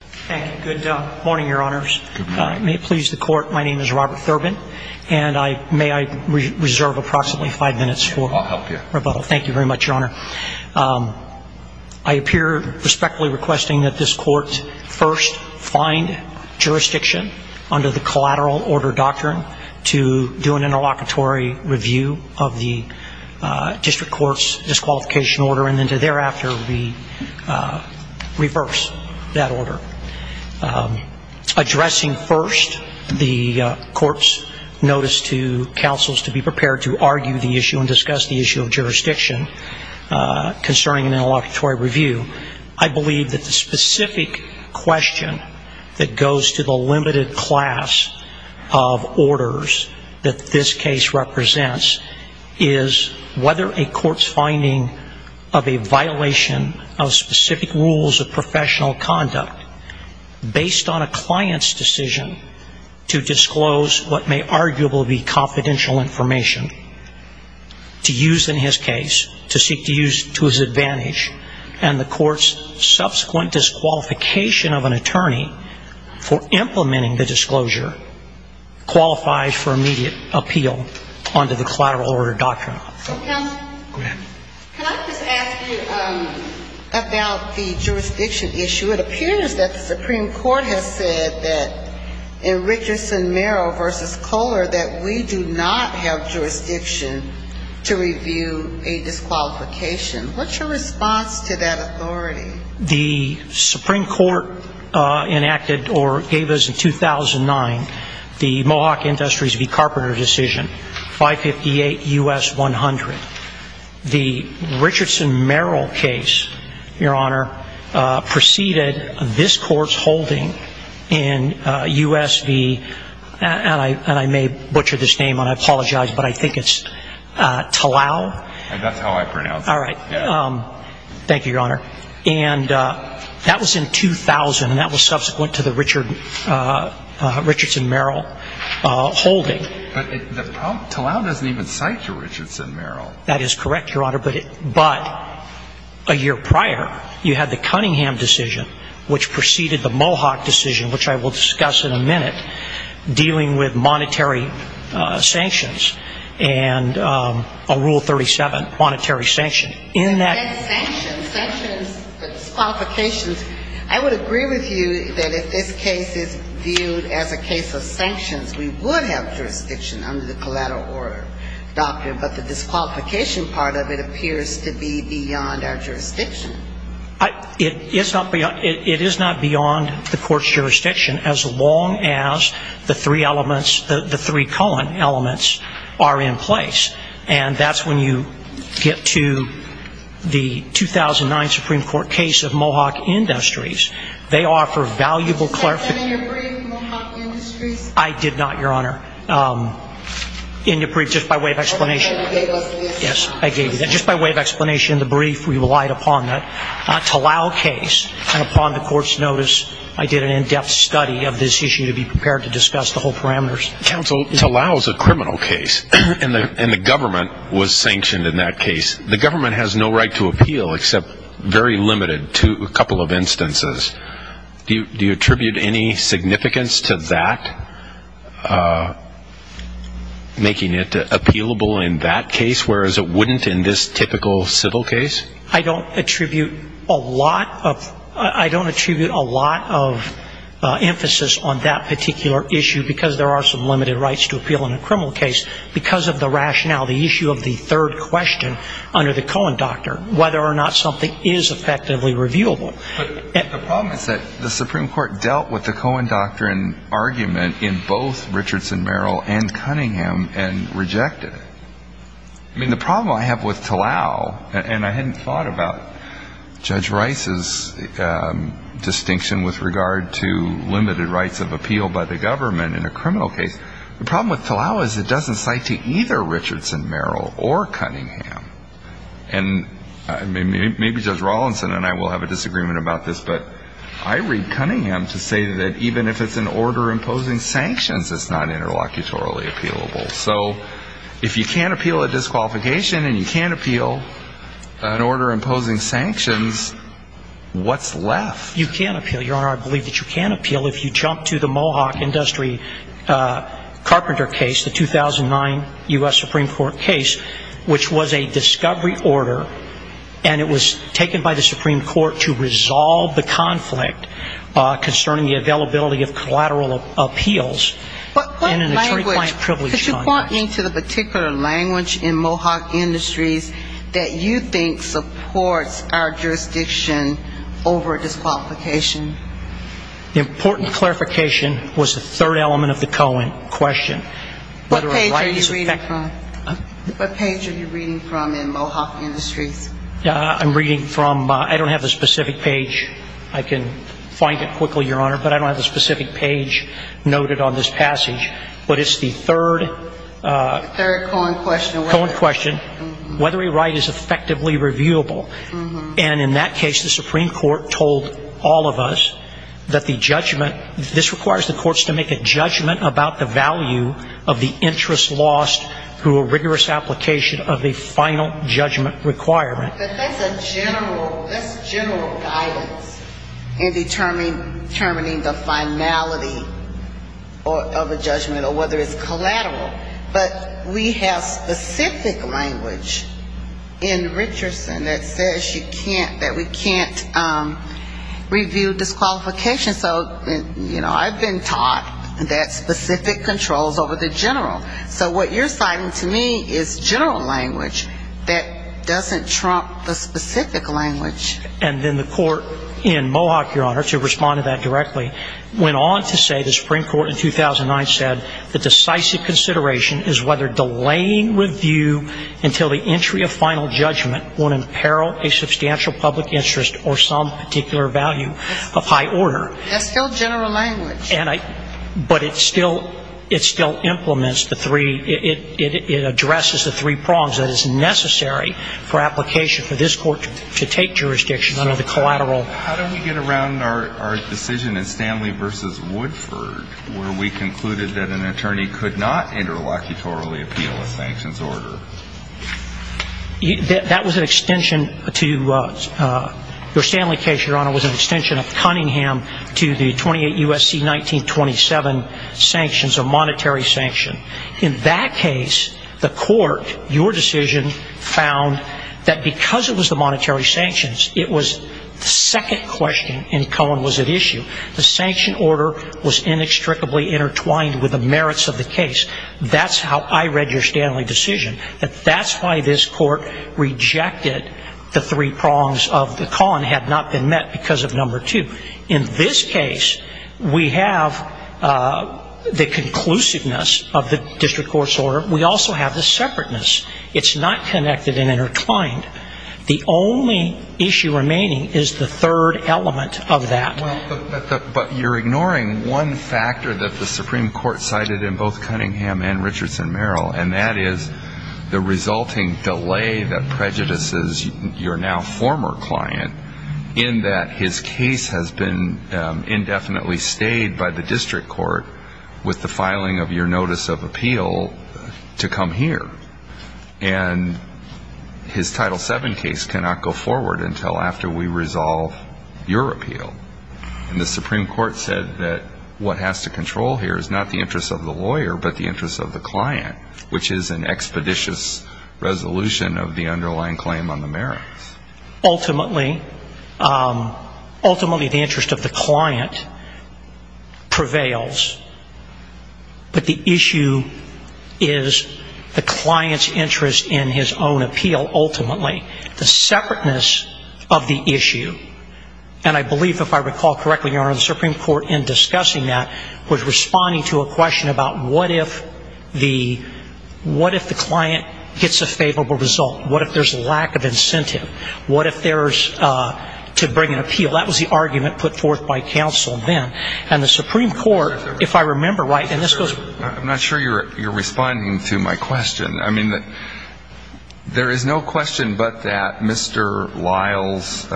Thank you. Good morning, Your Honors. May it please the Court, my name is Robert Thurbon, and may I reserve approximately five minutes for rebuttal. I'll help you. Thank you very much, Your Honor. I appear respectfully requesting that this Court first find jurisdiction under the collateral order doctrine to do an interlocutory review of the district court's disqualification order and then to thereafter reverse that order. Addressing first the Court's notice to counsels to be prepared to argue the issue and discuss the issue of jurisdiction concerning an interlocutory review, I believe that the specific question that goes to the limited class of orders that this case represents is whether a court's finding of a violation of specific rules of professional conduct based on a client's decision to disclose what may arguably be confidential information, to use in his case, to seek to use to his advantage, and the court's subsequent disqualification of an attorney for implementing the disclosure qualifies for immediate appeal under the collateral order doctrine. Counsel, can I just ask you about the jurisdiction issue? It appears that the Supreme Court has said that in Richardson Merrill v. Kohler that we do not have jurisdiction to review a disqualification. What's your response to that authority? The Supreme Court enacted or gave us in 2009 the Mohawk Industries v. Carpenter decision, 558 U.S. 100. The Richardson Merrill case, Your Honor, preceded this Court's holding in U.S. v. and I may butcher this name, and I apologize, but I think it's Talal. That's how I pronounce it. All right. Thank you, Your Honor. And that was in 2000, and that was subsequent to the Richardson Merrill holding. But Talal doesn't even cite the Richardson Merrill. That is correct, Your Honor, but a year prior you had the Cunningham decision, which preceded the Mohawk decision, which I will discuss in a minute, dealing with monetary sanctions and a Rule 37 monetary sanction. In that ---- Sanctions, sanctions, disqualifications. I would agree with you that if this case is viewed as a case of sanctions, we would have jurisdiction under the collateral order doctrine, but the disqualification part of it appears to be beyond our jurisdiction. It is not beyond the Court's jurisdiction as long as the three elements, the three colon elements are in place, and that's when you get to the 2009 Supreme Court case of Mohawk Industries. They offer valuable clarification. Did you say that in your brief, Mohawk Industries? I did not, Your Honor. In your brief, just by way of explanation. Yes, I gave you that. Just by way of explanation in the brief, we relied upon that. Talal case, and upon the Court's notice, I did an in-depth study of this issue to be prepared to discuss the whole parameters. Counsel, Talal is a criminal case, and the government was sanctioned in that case. The government has no right to appeal except very limited to a couple of instances. Do you attribute any significance to that, making it appealable in that case, whereas it wouldn't in this typical civil case? I don't attribute a lot of emphasis on that particular issue because there are some limited rights to appeal in a criminal case because of the rationale, the issue of the third question under the Cohen Doctrine, whether or not something is effectively reviewable. The problem is that the Supreme Court dealt with the Cohen Doctrine argument in both Richardson-Merrill and Cunningham and rejected it. I mean, the problem I have with Talal, and I hadn't thought about Judge Rice's distinction with regard to limited rights of appeal by the government in a criminal case, the problem with Talal is it doesn't cite to either Richardson-Merrill or Cunningham. And maybe Judge Rawlinson and I will have a disagreement about this, but I read Cunningham to say that even if it's an order imposing sanctions, it's not interlocutorally appealable. So if you can't appeal a disqualification and you can't appeal an order imposing sanctions, what's left? You can't appeal. Your Honor, I believe that you can appeal if you jump to the Mohawk Industry Carpenter case, the 2009 U.S. Supreme Court case, which was a discovery order, and it was taken by the Supreme Court to resolve the conflict concerning the availability of collateral appeals in an attorney-client privilege context. But what language, could you point me to the particular language in Mohawk Industries that you think supports our jurisdiction over disqualification? The important clarification was the third element of the Cohen question. What page are you reading from in Mohawk Industries? I'm reading from ‑‑ I don't have the specific page. I can find it quickly, Your Honor, but I don't have the specific page noted on this passage. But it's the third ‑‑ The third Cohen question. Cohen question. Whether a right is effectively reviewable. And in that case, the Supreme Court told all of us that the judgment ‑‑ this requires the courts to make a judgment about the value of the interest lost through a rigorous application of a final judgment requirement. But that's a general ‑‑ that's general guidance in determining the finality of a judgment, or whether it's collateral. But we have specific language in Richardson that says you can't ‑‑ that we can't review disqualification. So, you know, I've been taught that specific controls over the general. So what you're citing to me is general language that doesn't trump the specific language. And then the court in Mohawk, Your Honor, to respond to that directly, went on to say the Supreme Court in 2009 said the decisive consideration is whether delaying review until the entry of final judgment will imperil a substantial public interest or some particular value of high order. That's still general language. But it still implements the three ‑‑ it addresses the three prongs that is necessary for application for this court to take jurisdiction under the collateral. How did we get around our decision in Stanley v. Woodford where we concluded that an attorney could not interlocutorily appeal a sanctions order? That was an extension to ‑‑ your Stanley case, Your Honor, was an extension of Cunningham to the 28 U.S.C. 1927 sanctions or monetary sanction. In that case, the court, your decision, found that because it was the monetary sanctions, it was the second question in Cohen was at issue. The sanction order was inextricably intertwined with the merits of the case. That's how I read your Stanley decision. That's why this court rejected the three prongs of the ‑‑ Cohen had not been met because of number two. In this case, we have the conclusiveness of the district court's order. We also have the separateness. It's not connected and intertwined. The only issue remaining is the third element of that. But you're ignoring one factor that the Supreme Court cited in both Cunningham and Richardson Merrill, and that is the resulting delay that prejudices your now former client in that his case has been indefinitely stayed by the district court with the filing of your notice of appeal to come here. And his Title VII case cannot go forward until after we resolve your appeal. And the Supreme Court said that what has to control here is not the interest of the lawyer, but the interest of the client, which is an expeditious resolution of the underlying claim on the merits. Ultimately, the interest of the client prevails. But the issue is the client's interest in his own appeal, ultimately. The separateness of the issue, and I believe if I recall correctly, Your Honor, the Supreme Court in discussing that was responding to a question about what if the client gets a favorable result? What if there's a lack of incentive? What if there's to bring an appeal? That was the argument put forth by counsel then. And the Supreme Court, if I remember right, in this case... I'm not sure you're responding to my question. I mean, there is no question but that Mr. Lyle's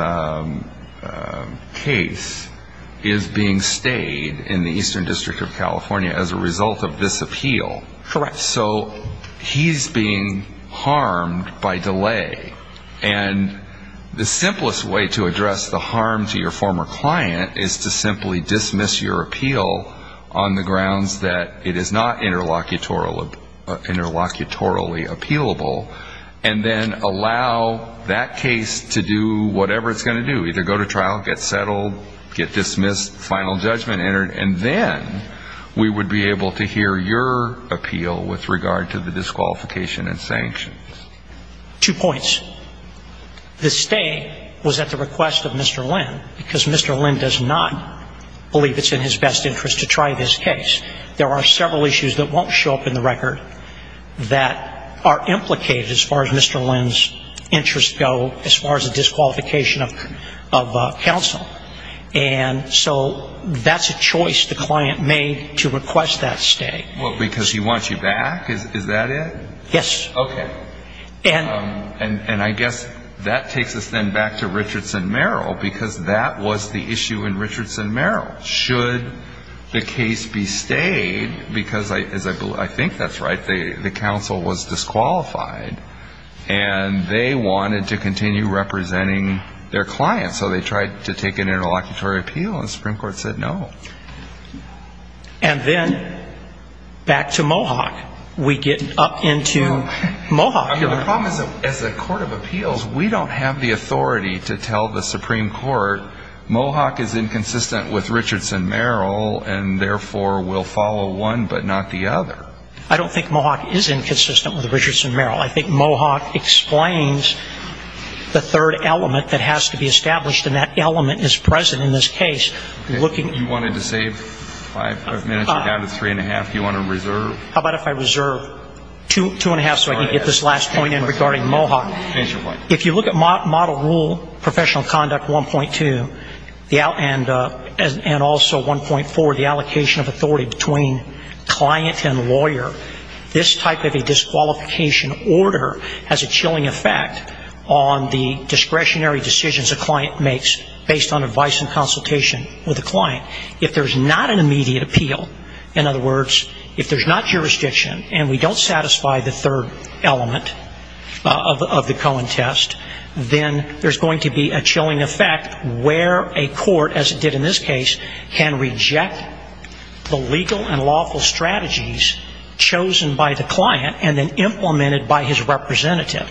case is being stayed in the Eastern District of California as a result of this appeal. So he's being harmed by delay. And the simplest way to address the harm to your former client is to simply dismiss your appeal on the grounds that it is not interlocutorily appealable, and then allow that case to do whatever it's going to do, either go to trial, get settled, get dismissed, final judgment entered, and then we would be able to hear your appeal with regard to the disqualification and sanctions. Two points. The stay was at the request of Mr. Lynn, because Mr. Lynn does not believe it's in his best interest to try this case. There are several issues that won't show up in the record that are implicated as far as Mr. Lynn's interests go, as far as the disqualification of counsel. And so that's a choice the client made to request that stay. Well, because he wants you back? Is that it? Yes. Okay. And I guess that takes us then back to Richardson Merrill, because that was the issue in Richardson Merrill. Should the case be stayed, because I think that's right, the counsel was disqualified, and they wanted to continue representing their client. So they tried to take an interlocutory appeal, and the Supreme Court said no. And then back to Mohawk. We get up into Mohawk. The problem is, as a court of appeals, we don't have the authority to tell the Supreme Court Mohawk is inconsistent with Richardson Merrill, and therefore will follow one but not the other. I don't think Mohawk is inconsistent with Richardson Merrill. I think Mohawk explains the third element that has to be established, and that element is present in this case. If you wanted to save five minutes, you're down to three and a half. Do you want to reserve? How about if I reserve two and a half so I can get this last point in regarding Mohawk? If you look at Model Rule Professional Conduct 1.2, and also 1.4, the allocation of authority between client and lawyer, this type of a disqualification order has a chilling effect on the discretionary decisions a client makes based on advice and consultation with a client. If there's not an immediate appeal, in other words, if there's not jurisdiction and we don't satisfy the third element of the Cohen test, then there's going to be a chilling effect where a court, as it did in this case, can reject the legal and lawful strategies chosen by the client and then implemented by his representative.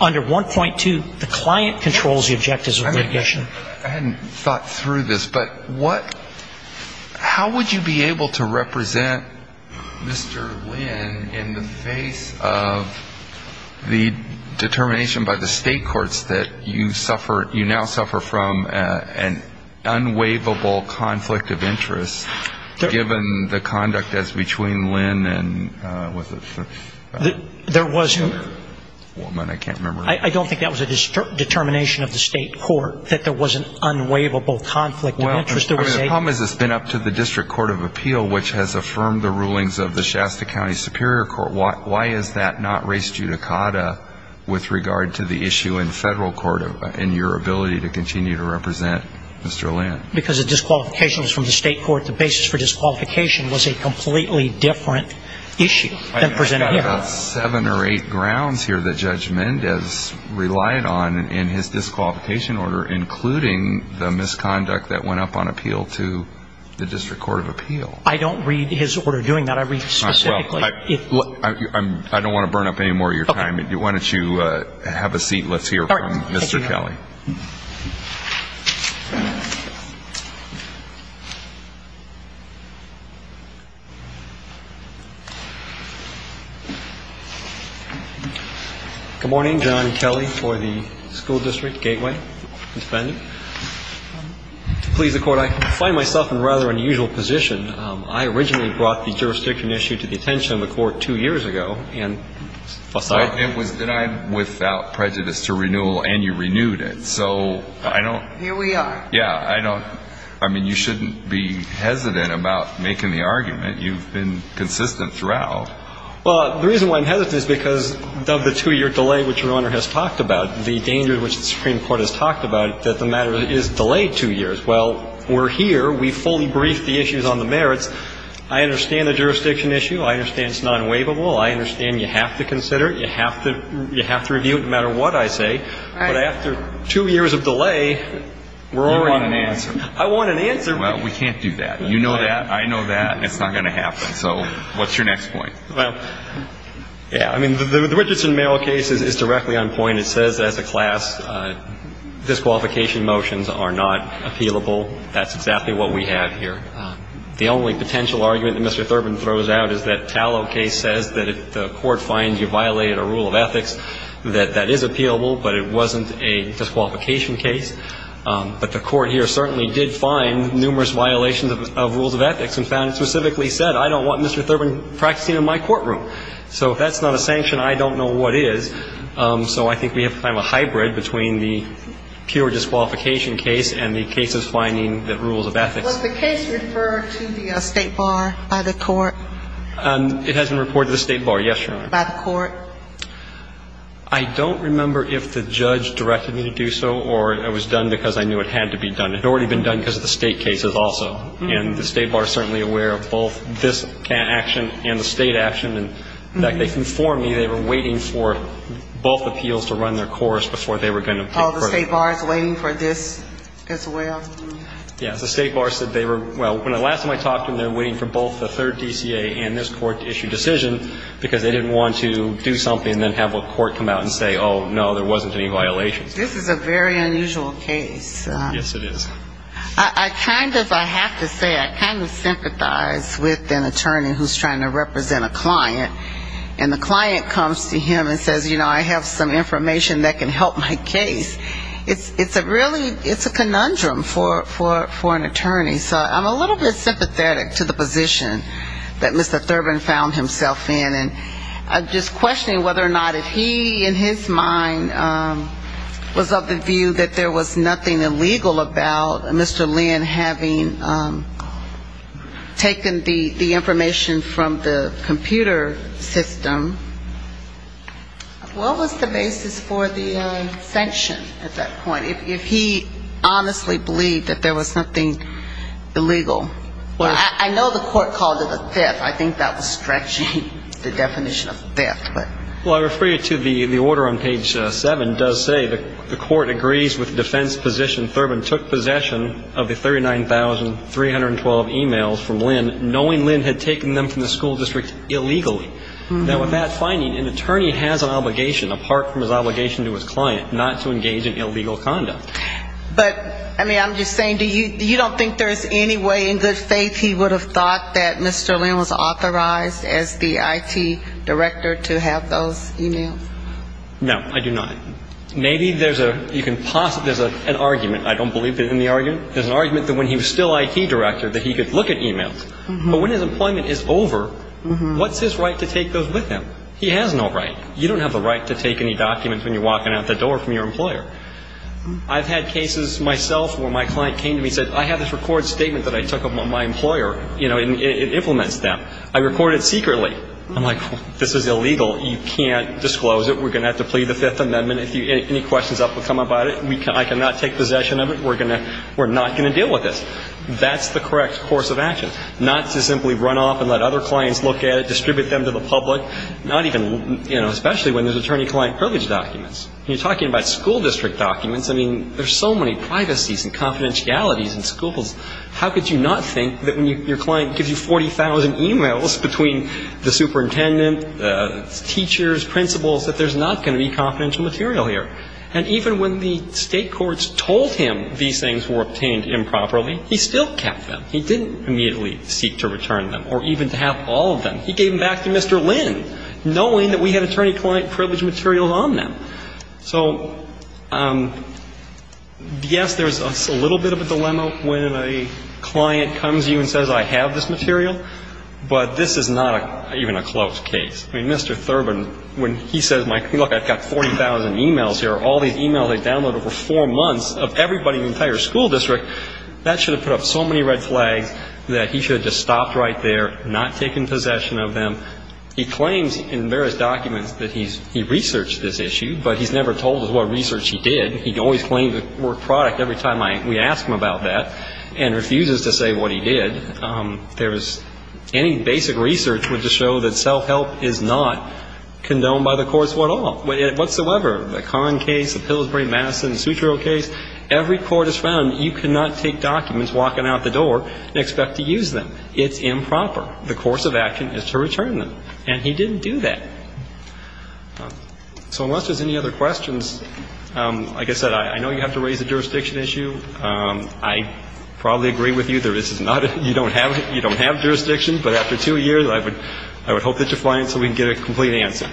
Under 1.2, the client controls the objectives of litigation. Under 1.4, the client controls the objectives of litigation. So how would you be able to represent Mr. Lynn in the face of the determination by the state courts that you now suffer from an unwaivable conflict of interest given the conduct as between Lynn and, what was it? I don't think that was a determination of the state court, that there was an unwaivable conflict of interest. The problem is it's been up to the District Court of Appeal, which has affirmed the rulings of the Shasta County Superior Court. Why is that not race judicata with regard to the issue in federal court in your ability to continue to represent Mr. Lynn? Because the disqualification was from the state court. The basis for disqualification was a completely different issue than presented here. I think I've got about seven or eight grounds here that Judge Mendez relied on in his disqualification order, including the misconduct that went up on appeal to the District Court of Appeal. I don't read his order doing that. I read it specifically. I don't want to burn up any more of your time. Why don't you have a seat and let's hear from Mr. Kelly. Good morning. John Kelly for the School District, Gateway Defending. To please the Court, I find myself in a rather unusual position. I originally brought the jurisdiction issue to the attention of the Court two years ago. It was denied without prejudice to renewal and you renewed it. Here we are. Yeah. I mean, you shouldn't be hesitant about making the argument. You've been consistent throughout. Well, the reason why I'm hesitant is because of the two-year delay which Your Honor has talked about, the danger which the Supreme Court has talked about, that the matter is delayed two years. Well, we're here. We fully briefed the issues on the merits. I understand the jurisdiction issue. I understand it's not unwaivable. I understand you have to consider it. You have to review it no matter what I say. Right. But after two years of delay, we're already on it. You want an answer. I want an answer. Well, we can't do that. You know that. I know that. It's not going to happen. So what's your next point? Well, yeah. I mean, the Richardson-Merrill case is directly on point. And it says as a class disqualification motions are not appealable. That's exactly what we have here. The only potential argument that Mr. Thurman throws out is that Tallow case says that if the court finds you violated a rule of ethics, that that is appealable, but it wasn't a disqualification case. But the court here certainly did find numerous violations of rules of ethics and found it specifically said, I don't want Mr. Thurman practicing in my courtroom. So if that's not a sanction, I don't know what is. So I think we have kind of a hybrid between the pure disqualification case and the cases finding the rules of ethics. Was the case referred to the State Bar by the court? It has been reported to the State Bar, yes, Your Honor. By the court? I don't remember if the judge directed me to do so or it was done because I knew it had to be done. It had already been done because of the State cases also. And the State Bar is certainly aware of both this action and the State action. In fact, they informed me they were waiting for both appeals to run their course before they were going to take court. Oh, the State Bar is waiting for this as well? Yes. The State Bar said they were, well, when the last time I talked to them, they were waiting for both the third DCA and this court to issue a decision because they didn't want to do something and then have a court come out and say, oh, no, there wasn't any violations. This is a very unusual case. Yes, it is. I kind of, I have to say, I kind of sympathize with an attorney who's trying to represent a client. And the client comes to him and says, you know, I have some information that can help my case. It's a really, it's a conundrum for an attorney. So I'm a little bit sympathetic to the position that Mr. Thurman found himself in. I'm just questioning whether or not if he in his mind was of the view that there was nothing illegal about Mr. Lynn having taken the information from the computer system, what was the basis for the sanction at that point, if he honestly believed that there was something illegal? Well, I know the court called it a theft. I think that was stretching the definition of theft. Well, I refer you to the order on page 7. It does say the court agrees with defense position Thurman took possession of the 39,312 e-mails from Lynn, knowing Lynn had taken them from the school district illegally. Now, with that finding, an attorney has an obligation, apart from his obligation to his client, not to engage in illegal conduct. But, I mean, I'm just saying, you don't think there's any way in good faith he would have thought that Mr. Lynn was authorized as the IT director to have those e-mails? No, I do not. Maybe there's a, you can possibly, there's an argument. I don't believe there's any argument. There's an argument that when he was still IT director that he could look at e-mails. But when his employment is over, what's his right to take those with him? He has no right. You don't have the right to take any documents when you're walking out the door from your employer. I've had cases myself where my client came to me and said, I have this record statement that I took of my employer. You know, it implements them. I record it secretly. I'm like, this is illegal. You can't disclose it. We're going to have to plead the Fifth Amendment. If any questions ever come up about it, I cannot take possession of it. We're not going to deal with this. That's the correct course of action. Not to simply run off and let other clients look at it, distribute them to the public. Not even, you know, especially when there's attorney-client privilege documents. When you're talking about school district documents, I mean, there's so many privacies and confidentialities in schools. How could you not think that when your client gives you 40,000 e-mails between the superintendent, teachers, principals, that there's not going to be confidential material here? And even when the State courts told him these things were obtained improperly, he still kept them. He didn't immediately seek to return them or even to have all of them. He gave them back to Mr. Lin, knowing that we had attorney-client privilege materials on them. So, yes, there's a little bit of a dilemma when a client comes to you and says, I have this material, but this is not even a close case. I mean, Mr. Thurman, when he says, look, I've got 40,000 e-mails here, all these e-mails I've downloaded over four months of everybody in the entire school district, that should have put up so many red flags that he should have just stopped right there, not taken possession of them. He claims in various documents that he researched this issue, but he's never told us what research he did. He always claims it's a work product every time we ask him about that and refuses to say what he did. There's any basic research would just show that self-help is not condoned by the courts at all, whatsoever. The Conn case, the Pillsbury-Madison, the Sutro case, every court has found you cannot take documents walking out the door and expect to use them. It's improper. The course of action is to return them. And he didn't do that. So unless there's any other questions, like I said, I know you have to raise a jurisdiction issue. I probably agree with you, you don't have jurisdiction. But after two years, I would hope that you're flying so we can get a complete answer.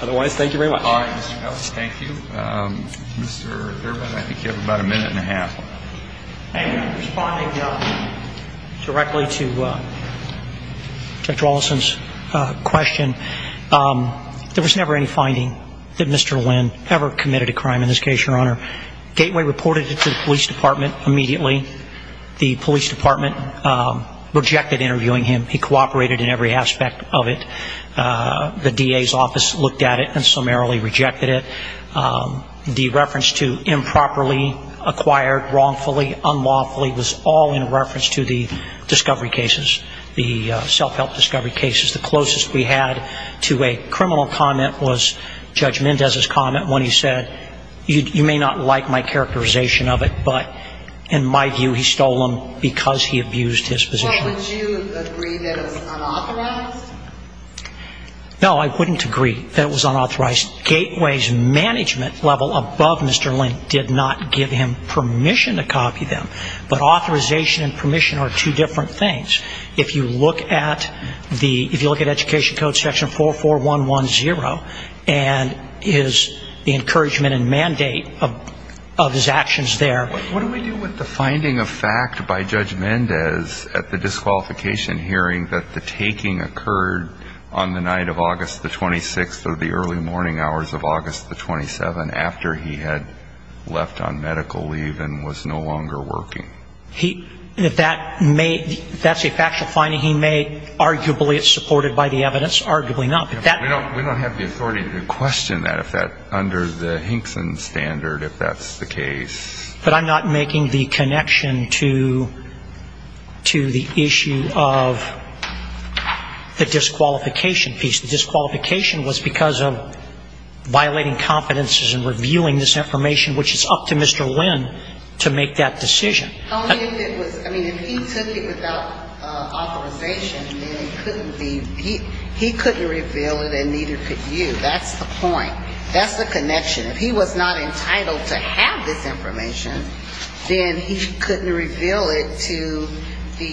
Otherwise, thank you very much. All right, Mr. Ellis, thank you. Mr. Durbin, I think you have about a minute and a half. Responding directly to Dr. Olson's question, there was never any finding that Mr. Lynn ever committed a crime in this case, Your Honor. Gateway reported it to the police department immediately. The police department rejected interviewing him. He cooperated in every aspect of it. The DA's office looked at it and summarily rejected it. The reference to improperly acquired, wrongfully, unlawfully was all in reference to the discovery cases, the self-help discovery cases. The closest we had to a criminal comment was Judge Mendez's comment when he said, you may not like my characterization of it, but in my view, he stole them because he abused his position. Would you agree that it was unauthorized? No, I wouldn't agree that it was unauthorized. Gateway's management level above Mr. Lynn did not give him permission to copy them. But authorization and permission are two different things. If you look at the, if you look at Education Code section 44110 and his, the encouragement and mandate of his actions there. What do we do with the finding of fact by Judge Mendez at the disqualification hearing that the taking occurred on the night of August the 26th or the early morning hours of August the 27th after he had left on medical leave and was no longer working? He, if that may, if that's a factual finding, he may arguably, it's supported by the evidence, arguably not. We don't have the authority to question that if that, under the Hinkson standard, if that's the case. But I'm not making the connection to the issue of the disqualification piece. The disqualification was because of violating competencies and reviewing this information, which is up to Mr. Lynn to make that decision. Only if it was, I mean, if he took it without authorization, then it couldn't be, he couldn't reveal it and neither could you. That's the point. That's the connection. If he was not entitled to have this information, then he couldn't reveal it to the,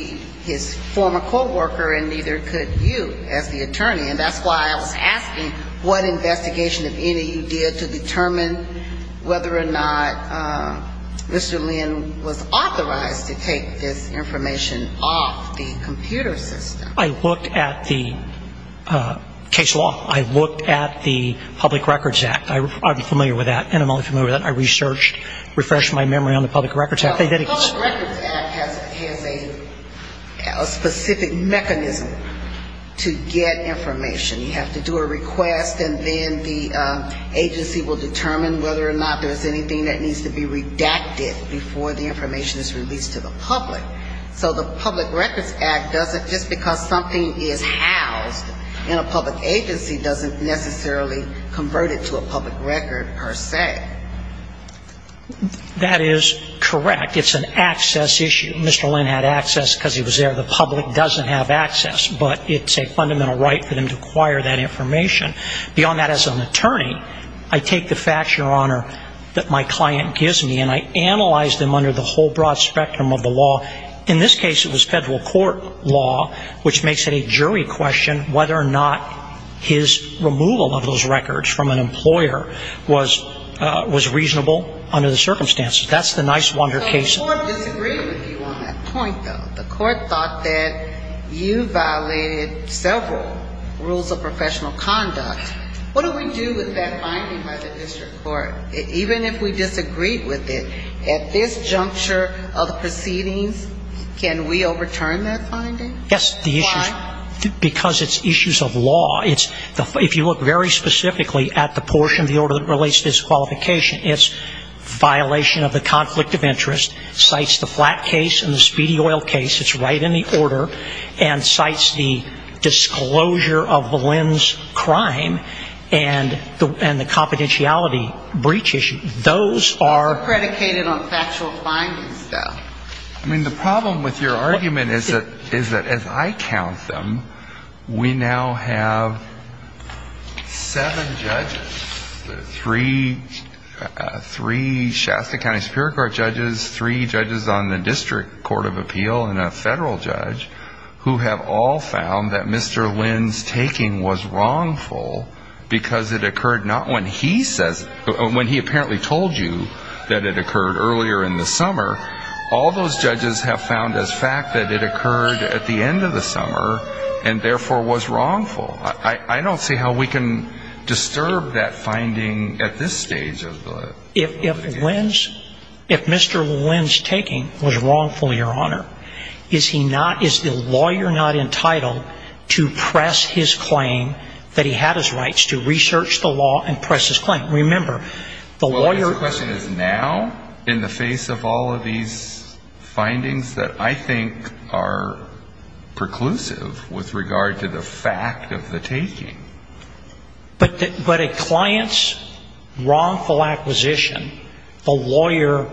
his former co-worker and neither could you as the attorney. And that's why I was asking what investigation, if any, you did to determine whether or not Mr. Lynn was authorized to take this information off the computer system. I looked at the case law. I looked at the Public Records Act. I'm familiar with that. And I'm only familiar with that. I researched, refreshed my memory on the Public Records Act. The Public Records Act has a specific mechanism to get information. You have to do a request and then the agency will determine whether or not there's anything that needs to be redacted before the information is released to the public. So the Public Records Act doesn't, just because something is housed in a public agency, doesn't necessarily convert it to a public record per se. That is correct. It's an access issue. Mr. Lynn had access because he was there. The public doesn't have access. But it's a fundamental right for them to acquire that information. Beyond that, as an attorney, I take the facts, Your Honor, that my client gives me and I analyze them under the whole broad spectrum of the law. In this case, it was federal court law, which makes it a jury question whether or not his removal of those records from an employer was reasonable under the circumstances. That's the nice wonder case. The court disagreed with you on that point, though. The court thought that you violated several rules of professional conduct. What do we do with that finding by the district court? Even if we disagreed with it, at this juncture of the proceedings, can we overturn that finding? Yes. Because it's issues of law. If you look very specifically at the portion of the order that relates to disqualification, it's violation of the conflict of interest. It cites the flat case and the speedy oil case. It's right in the order and cites the disclosure of Lynn's crime and the confidentiality breach issue. Those are predicated on factual findings, though. I mean, the problem with your argument is that as I count them, we now have seven judges. Three Shasta County Superior Court judges, three judges on the district court of appeal, and a federal judge who have all found that Mr. Lynn's taking was wrongful because it occurred not when he says or when he apparently told you that it occurred earlier in the summer. All those judges have found as fact that it occurred at the end of the summer and, therefore, was wrongful. I don't see how we can disturb that finding at this stage of the litigation. If Lynn's – if Mr. Lynn's taking was wrongful, Your Honor, is he not – is the lawyer not entitled to press his claim that he had his rights to research the law and press his claim? Remember, the lawyer – Now, in the face of all of these findings that I think are preclusive with regard to the fact of the taking. But a client's wrongful acquisition, the lawyer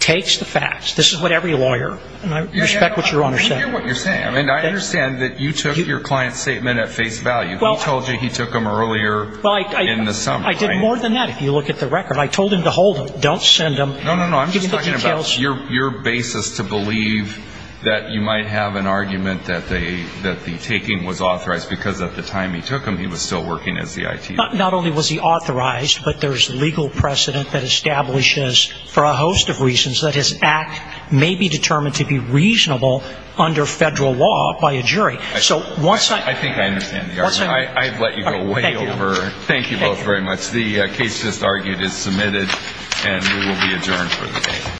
takes the facts. This is what every lawyer – and I respect what Your Honor said. I hear what you're saying. I mean, I understand that you took your client's statement at face value. He told you he took them earlier in the summer, right? I did more than that, if you look at the record. I told him to hold them. Don't send them. No, no, no. I'm just talking about your basis to believe that you might have an argument that the taking was authorized because at the time he took them, he was still working as the ITO. Not only was he authorized, but there's legal precedent that establishes, for a host of reasons, that his act may be determined to be reasonable under federal law by a jury. I think I understand the argument. I've let you go way over. Thank you both very much. The case just argued is submitted and we will be adjourned for the day.